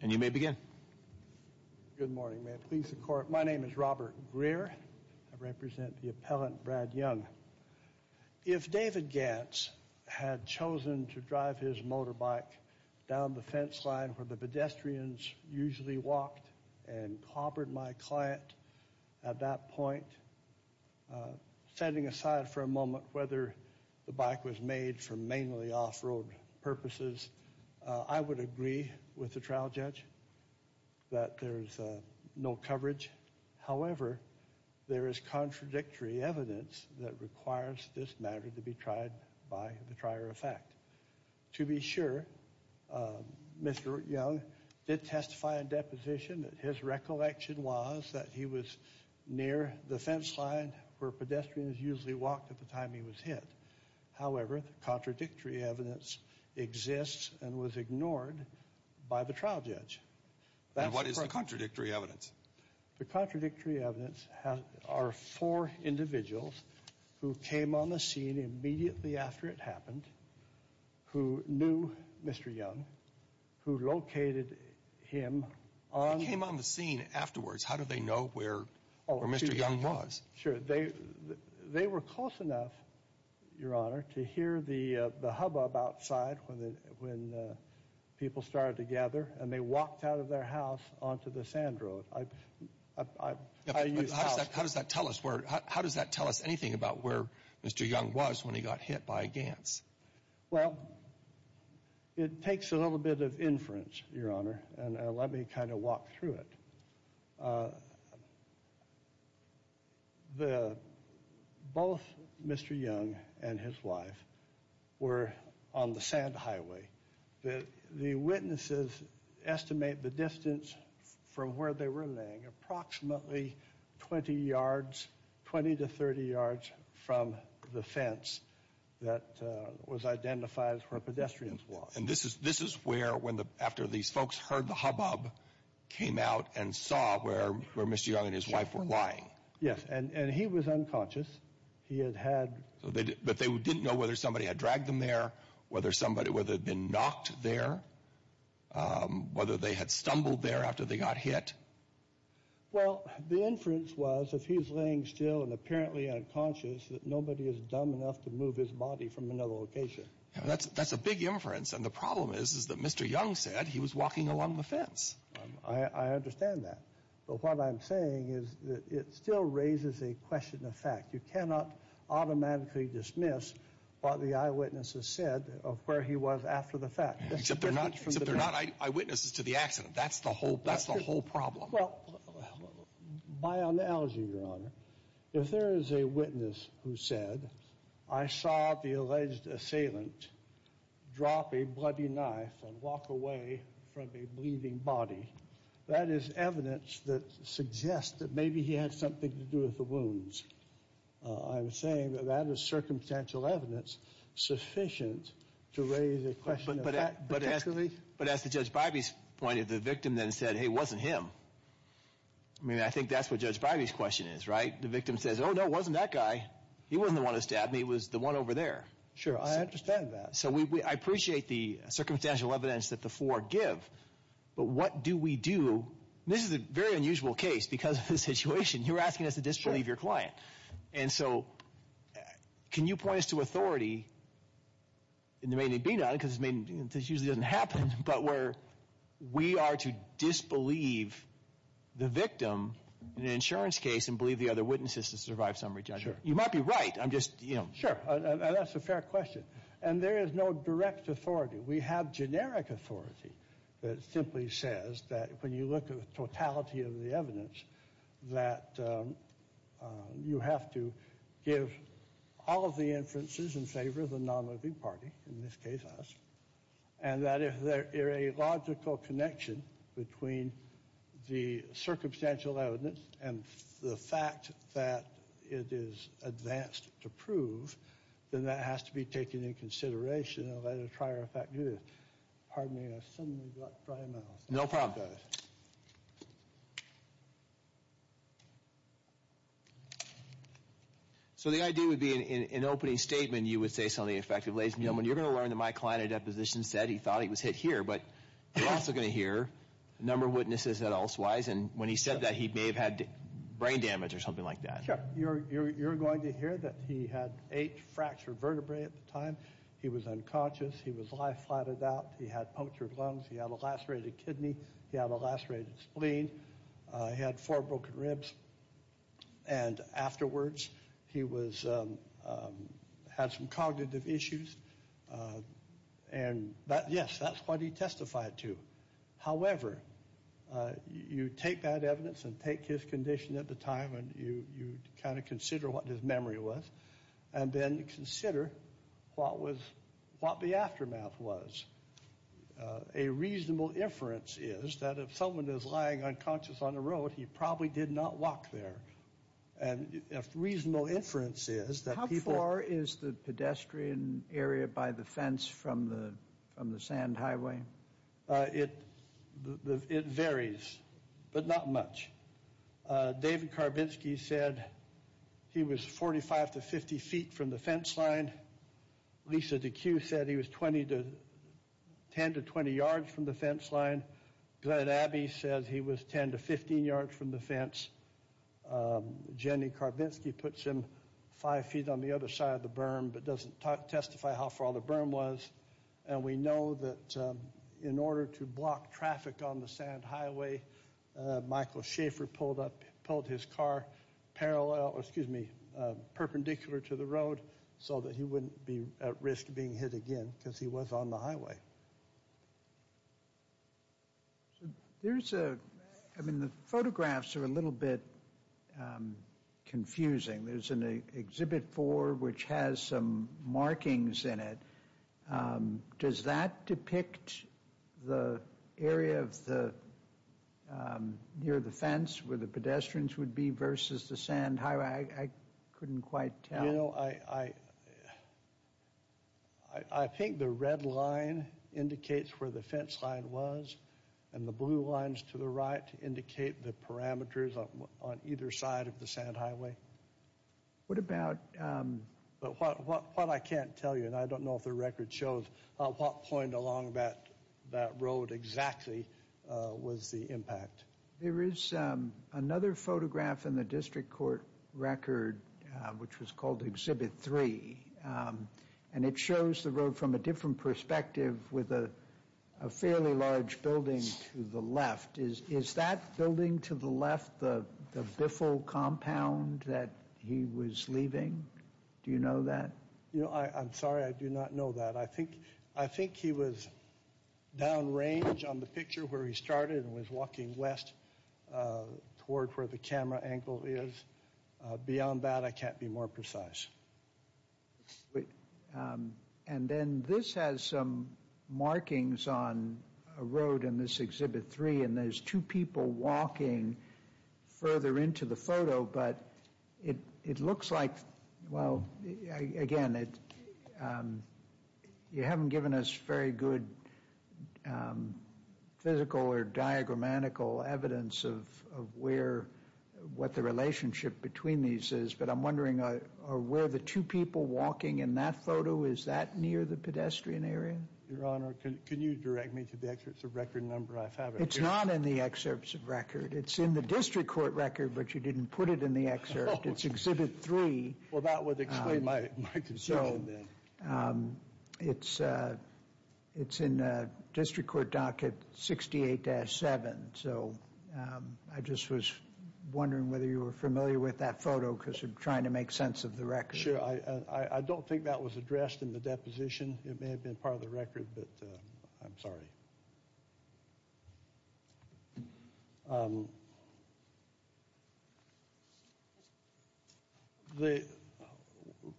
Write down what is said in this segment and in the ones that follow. And you may begin. Good morning. May it please the Court. My name is Robert Greer. I represent the appellant Brad Young. If David Gantz had chosen to drive his motorbike down the fence line where the pedestrians usually walked and clobbered my client at that point, setting aside for a moment whether the bike was made for mainly off-road purposes, I would agree with the trial judge that there is no coverage. However, there is contradictory evidence that requires this matter to be tried by the trier of fact. To be sure, Mr. Young did testify in deposition that his recollection was that he was near the fence line where pedestrians usually walked at the time he was hit. However, the contradictory evidence exists and was ignored by the trial judge. And what is the contradictory evidence? The contradictory evidence are four individuals who came on the scene immediately after it happened, who knew Mr. Young, who located him on... They came on the scene afterwards. How do they know where Mr. Young was? Sure. They were close enough, Your Honor, to hear the hubbub outside when people started to gather and they walked out of their house onto the sand road. How does that tell us anything about where Mr. Young was when he got hit by a Gantz? Well, it takes a little bit of inference, Your Honor, and let me kind of walk through it. Both Mr. Young and his wife were on the sand highway. The witnesses estimate the distance from where they were laying approximately 20 yards, 20 to 30 yards from the fence that was identified as where pedestrians walked. And this is where, after these folks heard the hubbub, came out and saw where Mr. Young and his wife were lying? Yes, and he was unconscious. He had had... But they didn't know whether somebody had dragged them there, whether somebody had been knocked there, whether they had stumbled there after they got hit? Well, the inference was if he was laying still and apparently unconscious, that nobody is dumb enough to move his body from another location. That's a big inference, and the problem is that Mr. Young said he was walking along the fence. I understand that, but what I'm saying is it still raises a question of fact. You cannot automatically dismiss what the eyewitnesses said of where he was after the fact. Except they're not eyewitnesses to the accident. That's the whole problem. Well, by analogy, Your Honor, if there is a witness who said, I saw the alleged assailant drop a bloody knife and walk away from a bleeding body, that is evidence that suggests that maybe he had something to do with the wounds. I'm saying that that is circumstantial evidence sufficient to raise a question of fact. But as to Judge Bivey's point, if the victim then said, hey, it wasn't him, I mean, I think that's what Judge Bivey's question is, right? The victim says, oh, no, it wasn't that guy. He wasn't the one who stabbed me. It was the one over there. Sure, I understand that. So I appreciate the circumstantial evidence that the four give, but what do we do? This is a very unusual case because of the situation. You're asking us to disbelieve your client. And so can you point us to authority in the maiden and benign, because this usually doesn't happen, but where we are to disbelieve the victim in an insurance case and believe the other witnesses to survive summary judgment? You might be right. I'm just, you know. Sure, and that's a fair question. And there is no direct authority. We have generic authority that simply says that when you look at the totality of the evidence, that you have to give all of the inferences in favor of the nonliving party, in this case us, and that if there is a logical connection between the circumstantial evidence and the fact that it is advanced to prove, then that has to be taken into consideration and let a prior effect do this. Pardon me, I've suddenly got dry mouth. No problem. So the idea would be, in opening statement, you would say something effective. Ladies and gentlemen, you're going to learn that my client at deposition said he thought he was hit here, but you're also going to hear a number of witnesses that elsewise, and when he said that, he may have had brain damage or something like that. Sure. You're going to hear that he had eight fractured vertebrae at the time. He was unconscious. He was life flatted out. He had punctured lungs. He had a lacerated kidney. He had a lacerated spleen. He had four broken ribs. And afterwards, he had some cognitive issues. And yes, that's what he testified to. However, you take that evidence and take his condition at the time and you kind of consider what his memory was and then consider what the aftermath was. A reasonable inference is that if someone is lying unconscious on the road, he probably did not walk there. A reasonable inference is that people... How far is the pedestrian area by the fence from the sand highway? It varies, but not much. David Karbinsky said he was 45 to 50 feet from the fence line. Lisa Deque said he was 10 to 20 yards from the fence line. Glenn Abbey said he was 10 to 15 yards from the fence. Jenny Karbinsky puts him five feet on the other side of the berm but doesn't testify how far the berm was. And we know that in order to block traffic on the sand highway, Michael Schaefer pulled his car perpendicular to the road so that he wouldn't be at risk of being hit again because he was on the highway. I mean, the photographs are a little bit confusing. There's an Exhibit 4 which has some markings in it. Does that depict the area near the fence where the pedestrians would be versus the sand highway? I couldn't quite tell. You know, I think the red line indicates where the fence line was and the blue lines to the right indicate the parameters on either side of the sand highway. But what I can't tell you, and I don't know if the record shows, what point along that road exactly was the impact. There is another photograph in the district court record which was called Exhibit 3, and it shows the road from a different perspective with a fairly large building to the left. Is that building to the left the Biffle compound that he was leaving? Do you know that? You know, I'm sorry. I do not know that. I think he was downrange on the picture where he started and was walking west toward where the camera angle is. Beyond that, I can't be more precise. And then this has some markings on a road in this Exhibit 3, and there's two people walking further into the photo. But it looks like, well, again, you haven't given us very good physical or diagrammatical evidence of what the relationship between these is. But I'm wondering, are where the two people walking in that photo, is that near the pedestrian area? Your Honor, can you direct me to the excerpts of record number? It's not in the excerpts of record. It's in the district court record, but you didn't put it in the excerpt. It's Exhibit 3. Well, that would explain my concern then. It's in the district court docket 68-7. So I just was wondering whether you were familiar with that photo because you're trying to make sense of the record. Sure. I don't think that was addressed in the deposition. It may have been part of the record, but I'm sorry.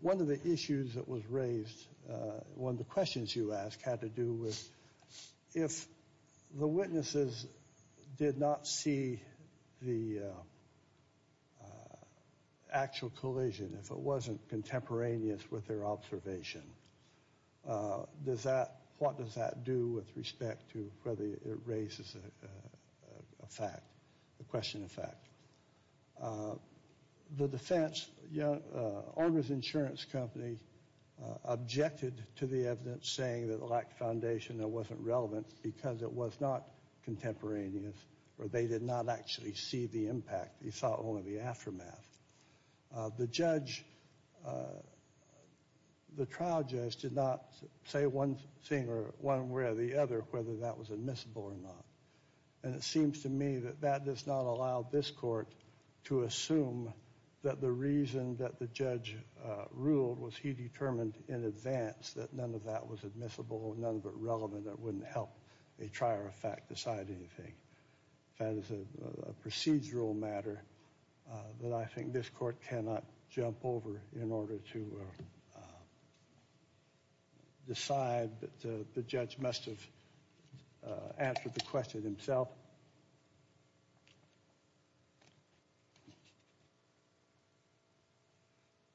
One of the issues that was raised, one of the questions you asked, had to do with, if the witnesses did not see the actual collision, if it wasn't contemporaneous with their observation, what does that do with respect to whether it raises a fact, a question of fact? The defense, Argus Insurance Company, objected to the evidence saying that it lacked foundation and it wasn't relevant because it was not contemporaneous or they did not actually see the impact. They saw only the aftermath. The judge, the trial judge, did not say one thing or one way or the other whether that was admissible or not. And it seems to me that that does not allow this court to assume that the reason that the judge ruled was he determined in advance that none of that was admissible, none of it relevant, that it wouldn't help a trier of fact decide anything. That is a procedural matter that I think this court cannot jump over in order to decide that the judge must have answered the question himself.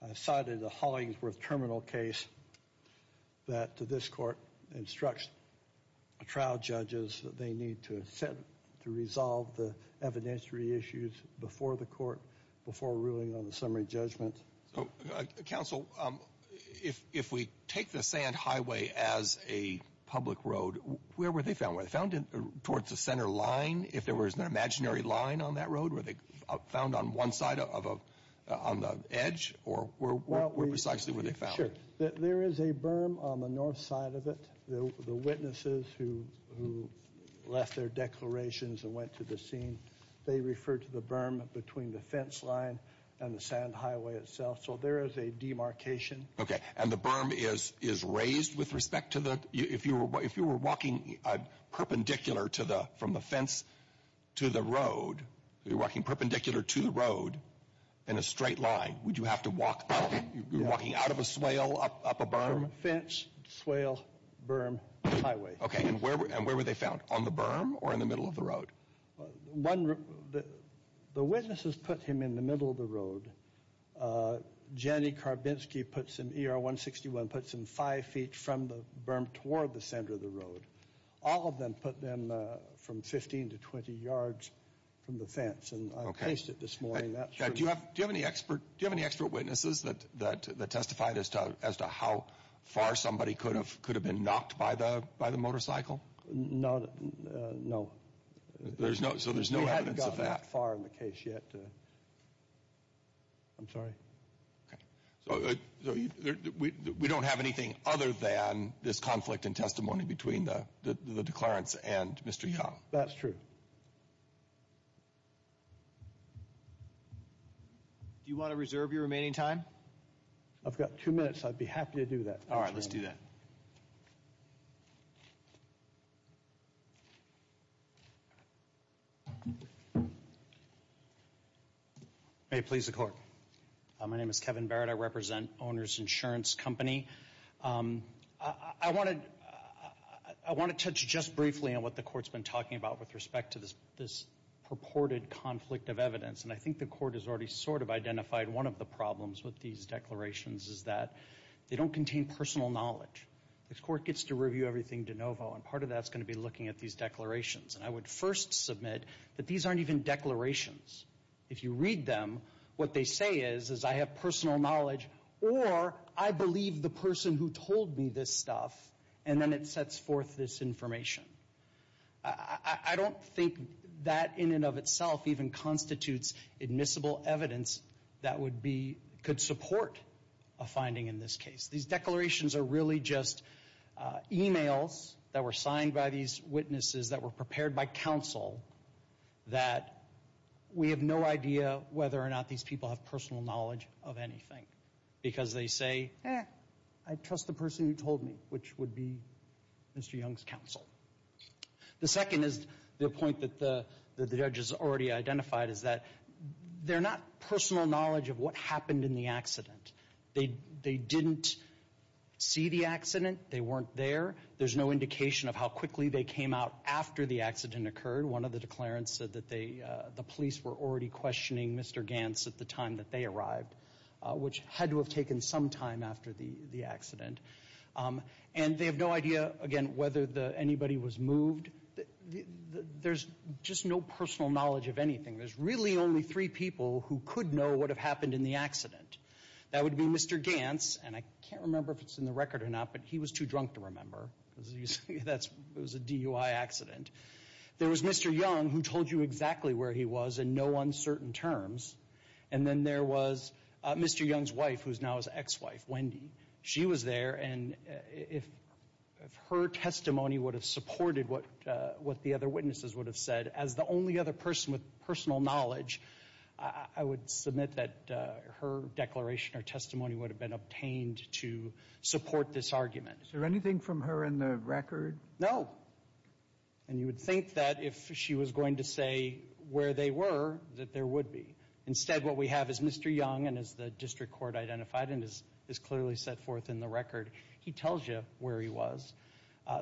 I cited a Hollingsworth Terminal case that this court instructs trial judges that they need to resolve the evidentiary issues before the court, before ruling on the summary judgment. Counsel, if we take the Sand Highway as a public road, where were they found? Were they found towards the center line, if there was an imaginary line on that road? Were they found on one side on the edge? Or where precisely were they found? There is a berm on the north side of it. The witnesses who left their declarations and went to the scene, they referred to the berm between the fence line and the Sand Highway itself. So there is a demarcation. Okay. And the berm is raised with respect to the – if you were walking perpendicular to the – from the fence to the road, you're walking perpendicular to the road in a straight line, would you have to walk up? You're walking out of a swale, up a berm? Fence, swale, berm, highway. Okay. And where were they found, on the berm or in the middle of the road? One – the witnesses put him in the middle of the road. Jenny Karbinsky puts him – ER-161 puts him five feet from the berm toward the center of the road. All of them put them from 15 to 20 yards from the fence. And I placed it this morning. Do you have any expert witnesses that testified as to how far somebody could have been knocked by the motorcycle? No. There's no – so there's no evidence of that? We haven't gotten that far in the case yet. I'm sorry. Okay. So we don't have anything other than this conflict in testimony between the declarants and Mr. Young? That's true. Do you want to reserve your remaining time? I've got two minutes. I'd be happy to do that. All right. Let's do that. May it please the Court. My name is Kevin Barrett. I represent Owner's Insurance Company. I want to touch just briefly on what the Court's been talking about with respect to this purported conflict of evidence. And I think the Court has already sort of identified one of the problems with these declarations is that they don't contain personal knowledge. The Court gets to review everything de novo, and part of that's going to be looking at these declarations. And I would first submit that these aren't even declarations. If you read them, what they say is, is I have personal knowledge, or I believe the person who told me this stuff, and then it sets forth this information. I don't think that in and of itself even constitutes admissible evidence that would be – could support a finding in this case. These declarations are really just e-mails that were signed by these witnesses, that were prepared by counsel, that we have no idea whether or not these people have personal knowledge of anything. Because they say, eh, I trust the person who told me, which would be Mr. Young's counsel. The second is the point that the judge has already identified, is that they're not personal knowledge of what happened in the accident. They didn't see the accident. They weren't there. There's no indication of how quickly they came out after the accident occurred. One of the declarants said that the police were already questioning Mr. Gantz at the time that they arrived, which had to have taken some time after the accident. And they have no idea, again, whether anybody was moved. There's just no personal knowledge of anything. There's really only three people who could know what had happened in the accident. That would be Mr. Gantz, and I can't remember if it's in the record or not, but he was too drunk to remember. That was a DUI accident. There was Mr. Young, who told you exactly where he was in no uncertain terms. And then there was Mr. Young's wife, who's now his ex-wife, Wendy. She was there, and if her testimony would have supported what the other witnesses would have said, as the only other person with personal knowledge, I would submit that her declaration or testimony would have been obtained to support this argument. Is there anything from her in the record? No. And you would think that if she was going to say where they were, that there would be. Instead, what we have is Mr. Young, and as the district court identified and is clearly set forth in the record, he tells you where he was.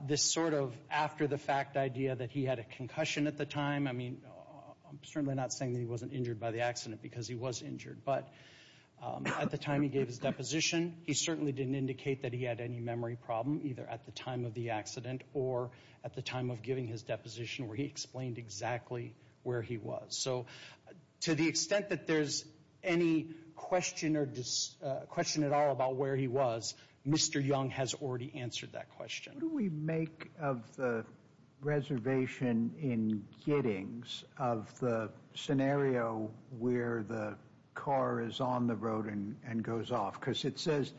This sort of after-the-fact idea that he had a concussion at the time, I mean, I'm certainly not saying that he wasn't injured by the accident because he was injured, but at the time he gave his deposition, he certainly didn't indicate that he had any memory problem, either at the time of the accident or at the time of giving his deposition where he explained exactly where he was. So to the extent that there's any question at all about where he was, Mr. Young has already answered that question. What do we make of the reservation in Giddings of the scenario where the car is on the road and goes off? Because it says,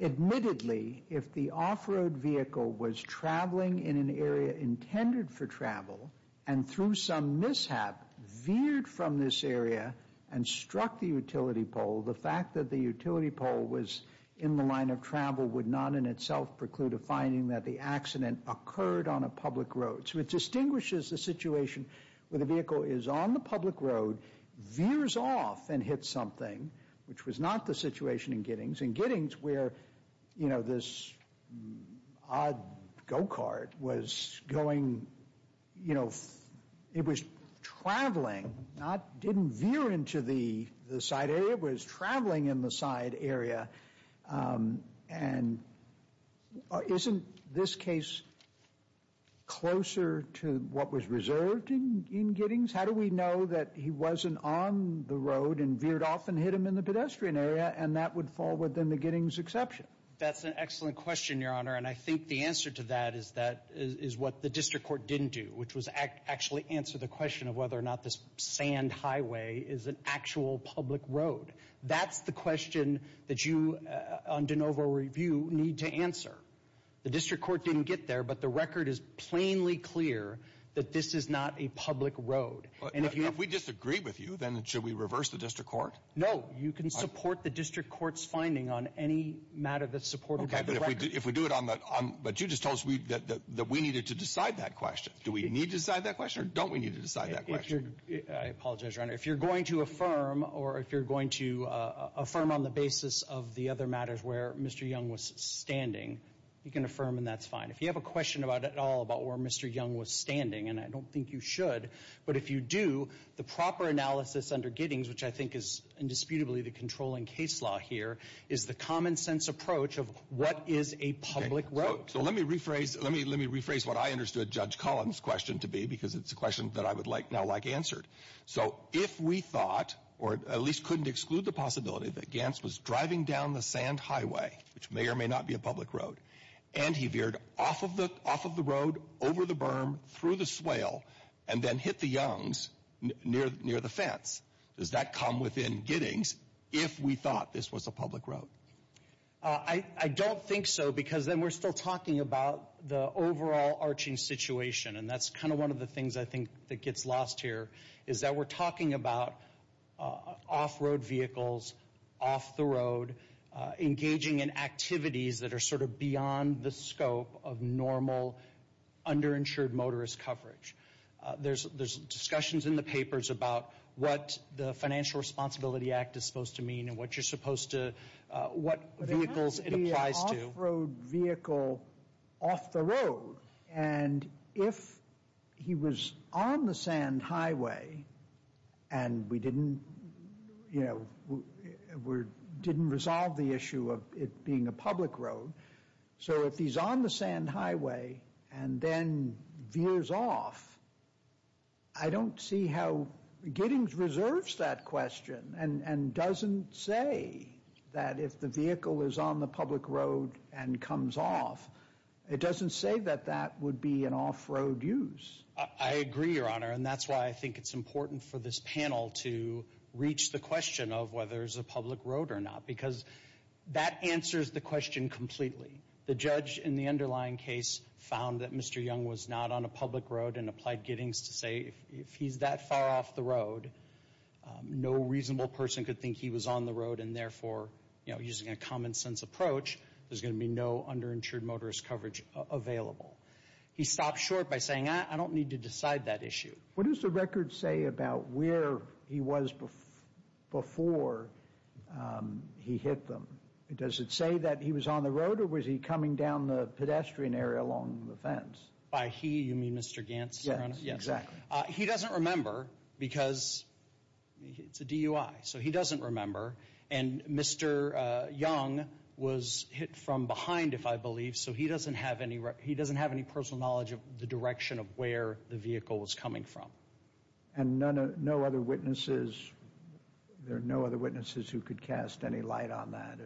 admittedly, if the off-road vehicle was traveling in an area intended for travel and through some mishap veered from this area and struck the utility pole, the fact that the utility pole was in the line of travel would not in itself preclude a finding that the accident occurred on a public road. So it distinguishes the situation where the vehicle is on the public road, veers off and hits something, which was not the situation in Giddings. In Giddings where, you know, this odd go-cart was going, you know, it was traveling, didn't veer into the side area, it was traveling in the side area. And isn't this case closer to what was reserved in Giddings? How do we know that he wasn't on the road and veered off and hit him in the pedestrian area and that would fall within the Giddings exception? That's an excellent question, Your Honor. And I think the answer to that is what the district court didn't do, which was actually answer the question of whether or not this sand highway is an actual public road. That's the question that you, on de novo review, need to answer. The district court didn't get there, but the record is plainly clear that this is not a public road. If we disagree with you, then should we reverse the district court? No, you can support the district court's finding on any matter that's supported by the record. But you just told us that we needed to decide that question. Do we need to decide that question or don't we need to decide that question? I apologize, Your Honor. If you're going to affirm or if you're going to affirm on the basis of the other matters where Mr. Young was standing, you can affirm and that's fine. If you have a question at all about where Mr. Young was standing, and I don't think you should, but if you do, the proper analysis under Giddings, which I think is indisputably the controlling case law here, is the common sense approach of what is a public road. So let me rephrase what I understood Judge Collins' question to be because it's a question that I would now like answered. So if we thought, or at least couldn't exclude the possibility, that Gants was driving down the sand highway, which may or may not be a public road, and he veered off of the road, over the berm, through the swale, and then hit the Youngs near the fence, does that come within Giddings if we thought this was a public road? I don't think so because then we're still talking about the overall arching situation, and that's kind of one of the things I think that gets lost here, is that we're talking about off-road vehicles, off the road, engaging in activities that are sort of beyond the scope of normal underinsured motorist coverage. There's discussions in the papers about what the Financial Responsibility Act is supposed to mean and what you're supposed to, what vehicles it applies to. But it has to be an off-road vehicle off the road. And if he was on the sand highway and we didn't, you know, didn't resolve the issue of it being a public road, so if he's on the sand highway and then veers off, I don't see how Giddings reserves that question and doesn't say that if the vehicle is on the public road and comes off, it doesn't say that that would be an off-road use. I agree, Your Honor, and that's why I think it's important for this panel to reach the question of whether it's a public road or not because that answers the question completely. The judge in the underlying case found that Mr. Young was not on a public road and applied Giddings to say if he's that far off the road, no reasonable person could think he was on the road and therefore, you know, using a common sense approach, there's going to be no underinsured motorist coverage available. He stopped short by saying, I don't need to decide that issue. What does the record say about where he was before he hit them? Does it say that he was on the road or was he coming down the pedestrian area along the fence? By he, you mean Mr. Gantz, Your Honor? Yes, exactly. He doesn't remember because it's a DUI, so he doesn't remember, and Mr. Young was hit from behind, if I believe, so he doesn't have any personal knowledge of the direction of where the vehicle was coming from. And no other witnesses? There are no other witnesses who could cast any light on that?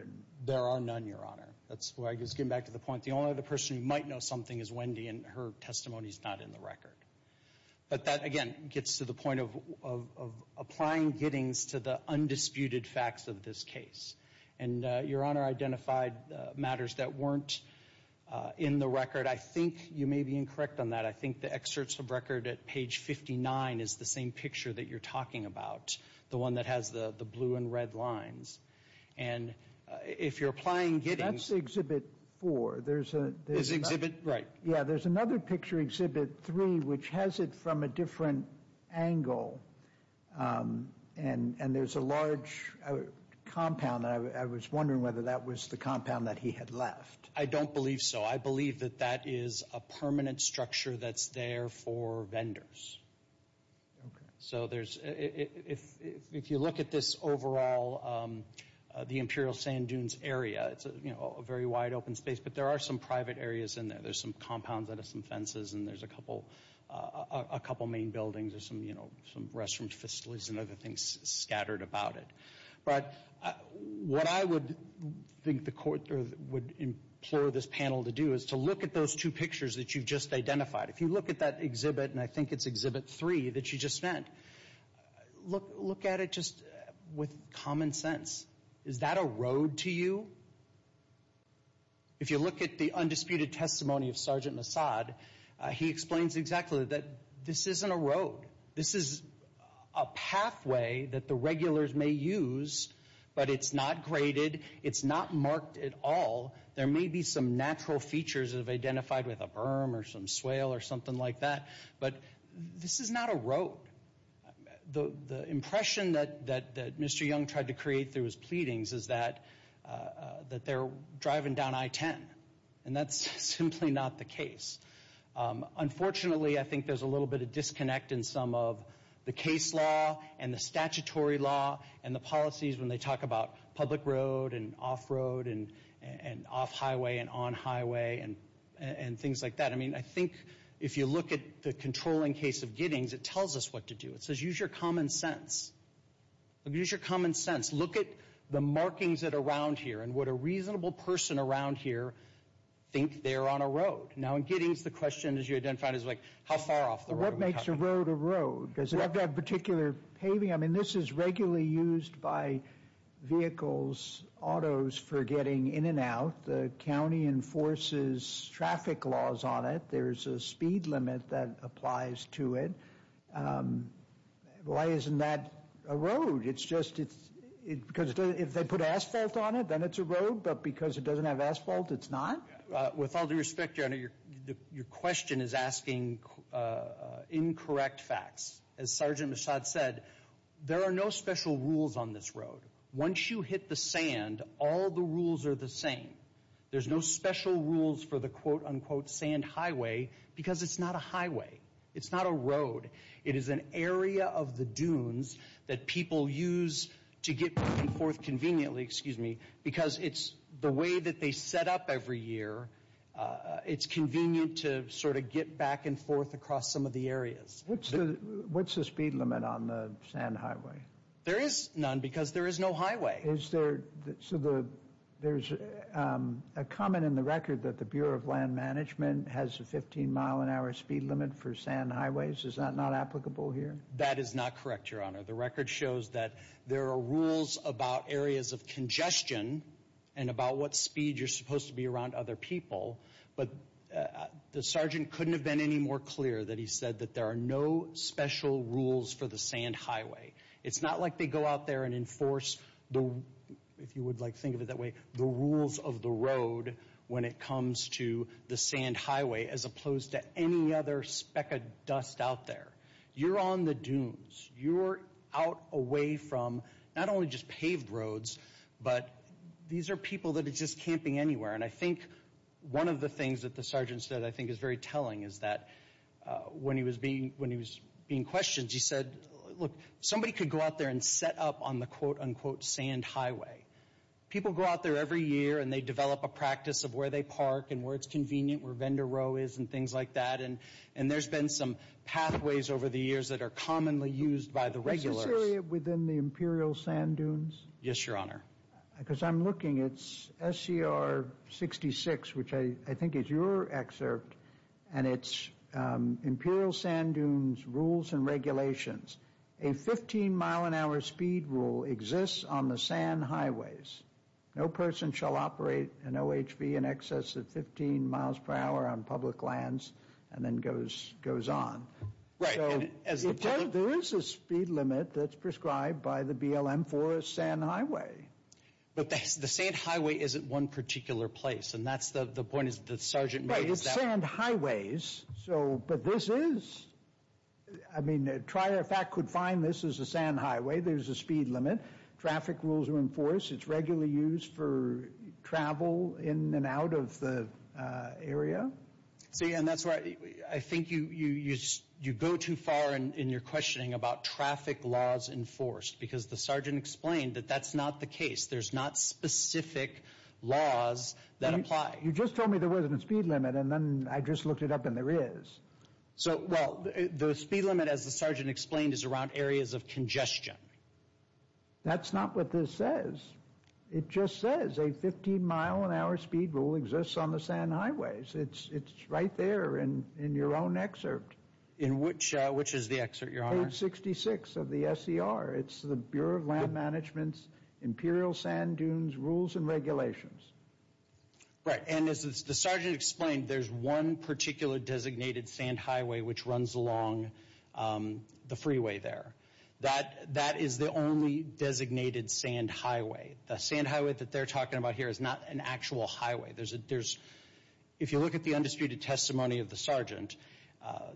There are none, Your Honor. That's why I was getting back to the point, the only other person who might know something is Wendy and her testimony is not in the record. But that, again, gets to the point of applying Giddings to the undisputed facts of this case. And Your Honor identified matters that weren't in the record. I think you may be incorrect on that. I think the excerpts of record at page 59 is the same picture that you're talking about, the one that has the blue and red lines. And if you're applying Giddings— That's Exhibit 4. This exhibit? Right. Yeah, there's another picture, Exhibit 3, which has it from a different angle, and there's a large compound. I was wondering whether that was the compound that he had left. I don't believe so. I believe that that is a permanent structure that's there for vendors. Okay. So there's—if you look at this overall, the Imperial Sand Dunes area, it's a very wide open space, but there are some private areas in there. There's some compounds that have some fences, and there's a couple main buildings, some restaurant facilities, and other things scattered about it. But what I would think the Court would implore this panel to do is to look at those two pictures that you've just identified. If you look at that exhibit, and I think it's Exhibit 3 that you just spent, look at it just with common sense. Is that a road to you? If you look at the undisputed testimony of Sergeant Nassad, he explains exactly that this isn't a road. This is a pathway that the regulars may use, but it's not graded. It's not marked at all. There may be some natural features that have been identified with a berm or some swale or something like that, but this is not a road. The impression that Mr. Young tried to create through his pleadings is that they're driving down I-10, and that's simply not the case. Unfortunately, I think there's a little bit of disconnect in some of the case law and the statutory law and the policies when they talk about public road and off-road and off-highway and on-highway and things like that. I think if you look at the controlling case of Giddings, it tells us what to do. It says use your common sense. Use your common sense. Look at the markings around here and what a reasonable person around here thinks they're on a road. Now, in Giddings, the question, as you identified, is how far off the road? What makes a road a road? Does it have that particular paving? I mean, this is regularly used by vehicles, autos, for getting in and out. The county enforces traffic laws on it. There's a speed limit that applies to it. Why isn't that a road? It's just it's because if they put asphalt on it, then it's a road, but because it doesn't have asphalt, it's not? With all due respect, Your Honor, your question is asking incorrect facts. As Sergeant Mishad said, there are no special rules on this road. Once you hit the sand, all the rules are the same. There's no special rules for the quote-unquote sand highway because it's not a highway. It's not a road. It is an area of the dunes that people use to get back and forth conveniently because it's the way that they set up every year. It's convenient to sort of get back and forth across some of the areas. What's the speed limit on the sand highway? There is none because there is no highway. So there's a comment in the record that the Bureau of Land Management has a 15-mile-an-hour speed limit for sand highways. Is that not applicable here? That is not correct, Your Honor. The record shows that there are rules about areas of congestion and about what speed you're supposed to be around other people, but the sergeant couldn't have been any more clear that he said that there are no special rules for the sand highway. It's not like they go out there and enforce, if you would like to think of it that way, the rules of the road when it comes to the sand highway as opposed to any other speck of dust out there. You're on the dunes. You're out away from not only just paved roads, but these are people that are just camping anywhere. And I think one of the things that the sergeant said I think is very telling is that when he was being questioned, he said, look, somebody could go out there and set up on the quote-unquote sand highway. People go out there every year, and they develop a practice of where they park and where it's convenient, where vendor row is and things like that. And there's been some pathways over the years that are commonly used by the regulars. Is this area within the Imperial Sand Dunes? Yes, Your Honor. Because I'm looking. It's SCR 66, which I think is your excerpt, and it's Imperial Sand Dunes Rules and Regulations. A 15-mile-an-hour speed rule exists on the sand highways. No person shall operate an OHV in excess of 15 miles per hour on public lands and then goes on. Right. There is a speed limit that's prescribed by the BLM for a sand highway. But the sand highway isn't one particular place, and that's the point the sergeant made. It's sand highways. But this is? I mean, Trier, in fact, could find this is a sand highway. There's a speed limit. Traffic rules are enforced. It's regularly used for travel in and out of the area. See, and that's why I think you go too far in your questioning about traffic laws enforced, because the sergeant explained that that's not the case. There's not specific laws that apply. Right. You just told me there wasn't a speed limit, and then I just looked it up, and there is. So, well, the speed limit, as the sergeant explained, is around areas of congestion. That's not what this says. It just says a 15-mile-an-hour speed rule exists on the sand highways. It's right there in your own excerpt. In which? Which is the excerpt, Your Honor? Page 66 of the SCR. It's the Bureau of Land Management's Imperial Sand Dunes Rules and Regulations. Right. And as the sergeant explained, there's one particular designated sand highway which runs along the freeway there. That is the only designated sand highway. The sand highway that they're talking about here is not an actual highway. If you look at the undisputed testimony of the sergeant,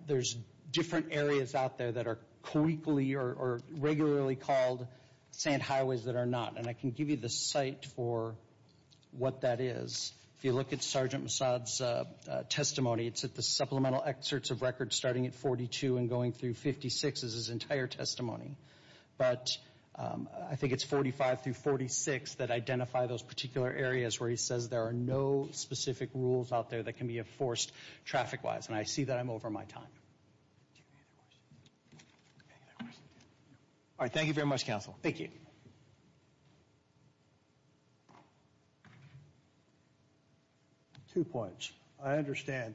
there's different areas out there that are correctly or regularly called sand highways that are not. And I can give you the site for what that is. If you look at Sergeant Massad's testimony, it's at the supplemental excerpts of records starting at 42 and going through 56. This is his entire testimony. But I think it's 45 through 46 that identify those particular areas where he says there are no specific rules out there that can be enforced traffic-wise. And I see that I'm over my time. All right. Thank you very much, counsel. Thank you. Two points. I understand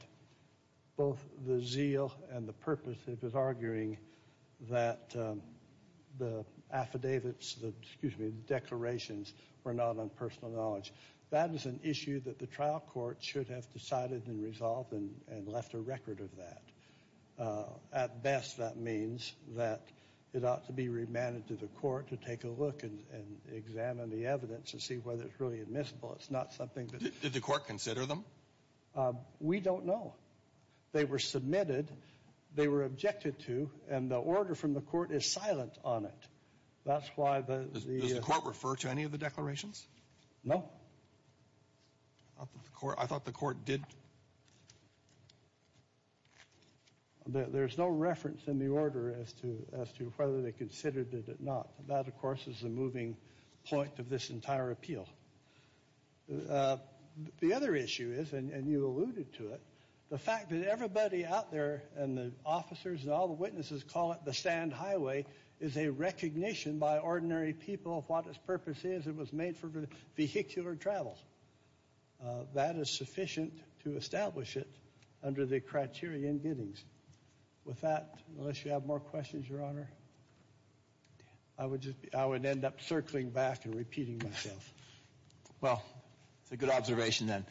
both the zeal and the purpose of his arguing that the affidavits, excuse me, the declarations were not on personal knowledge. That is an issue that the trial court should have decided and resolved and left a record of that. At best, that means that it ought to be remanded to the court to take a look and examine the evidence and see whether it's really admissible. It's not something that the court considered them. We don't know. They were submitted. They were objected to. And the order from the court is silent on it. That's why the court referred to any of the declarations. No. I thought the court did. There's no reference in the order as to whether they considered it or not. That, of course, is the moving point of this entire appeal. The other issue is, and you alluded to it, the fact that everybody out there and the officers and all the witnesses call it the stand highway, is a recognition by ordinary people of what its purpose is. It was made for vehicular travel. That is sufficient to establish it under the criteria in Giddings. With that, unless you have more questions, Your Honor, I would end up circling back and repeating myself. Well, it's a good observation then.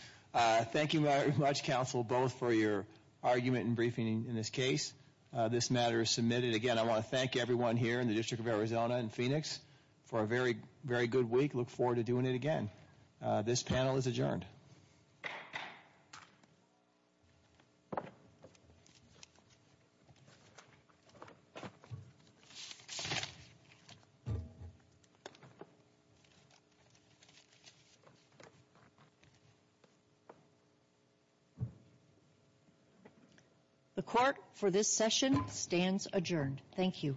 Thank you very much, counsel, both for your argument and briefing in this case. This matter is submitted. Again, I want to thank everyone here in the District of Arizona and Phoenix for a very, very good week. Look forward to doing it again. This panel is adjourned. The court for this session stands adjourned. Thank you.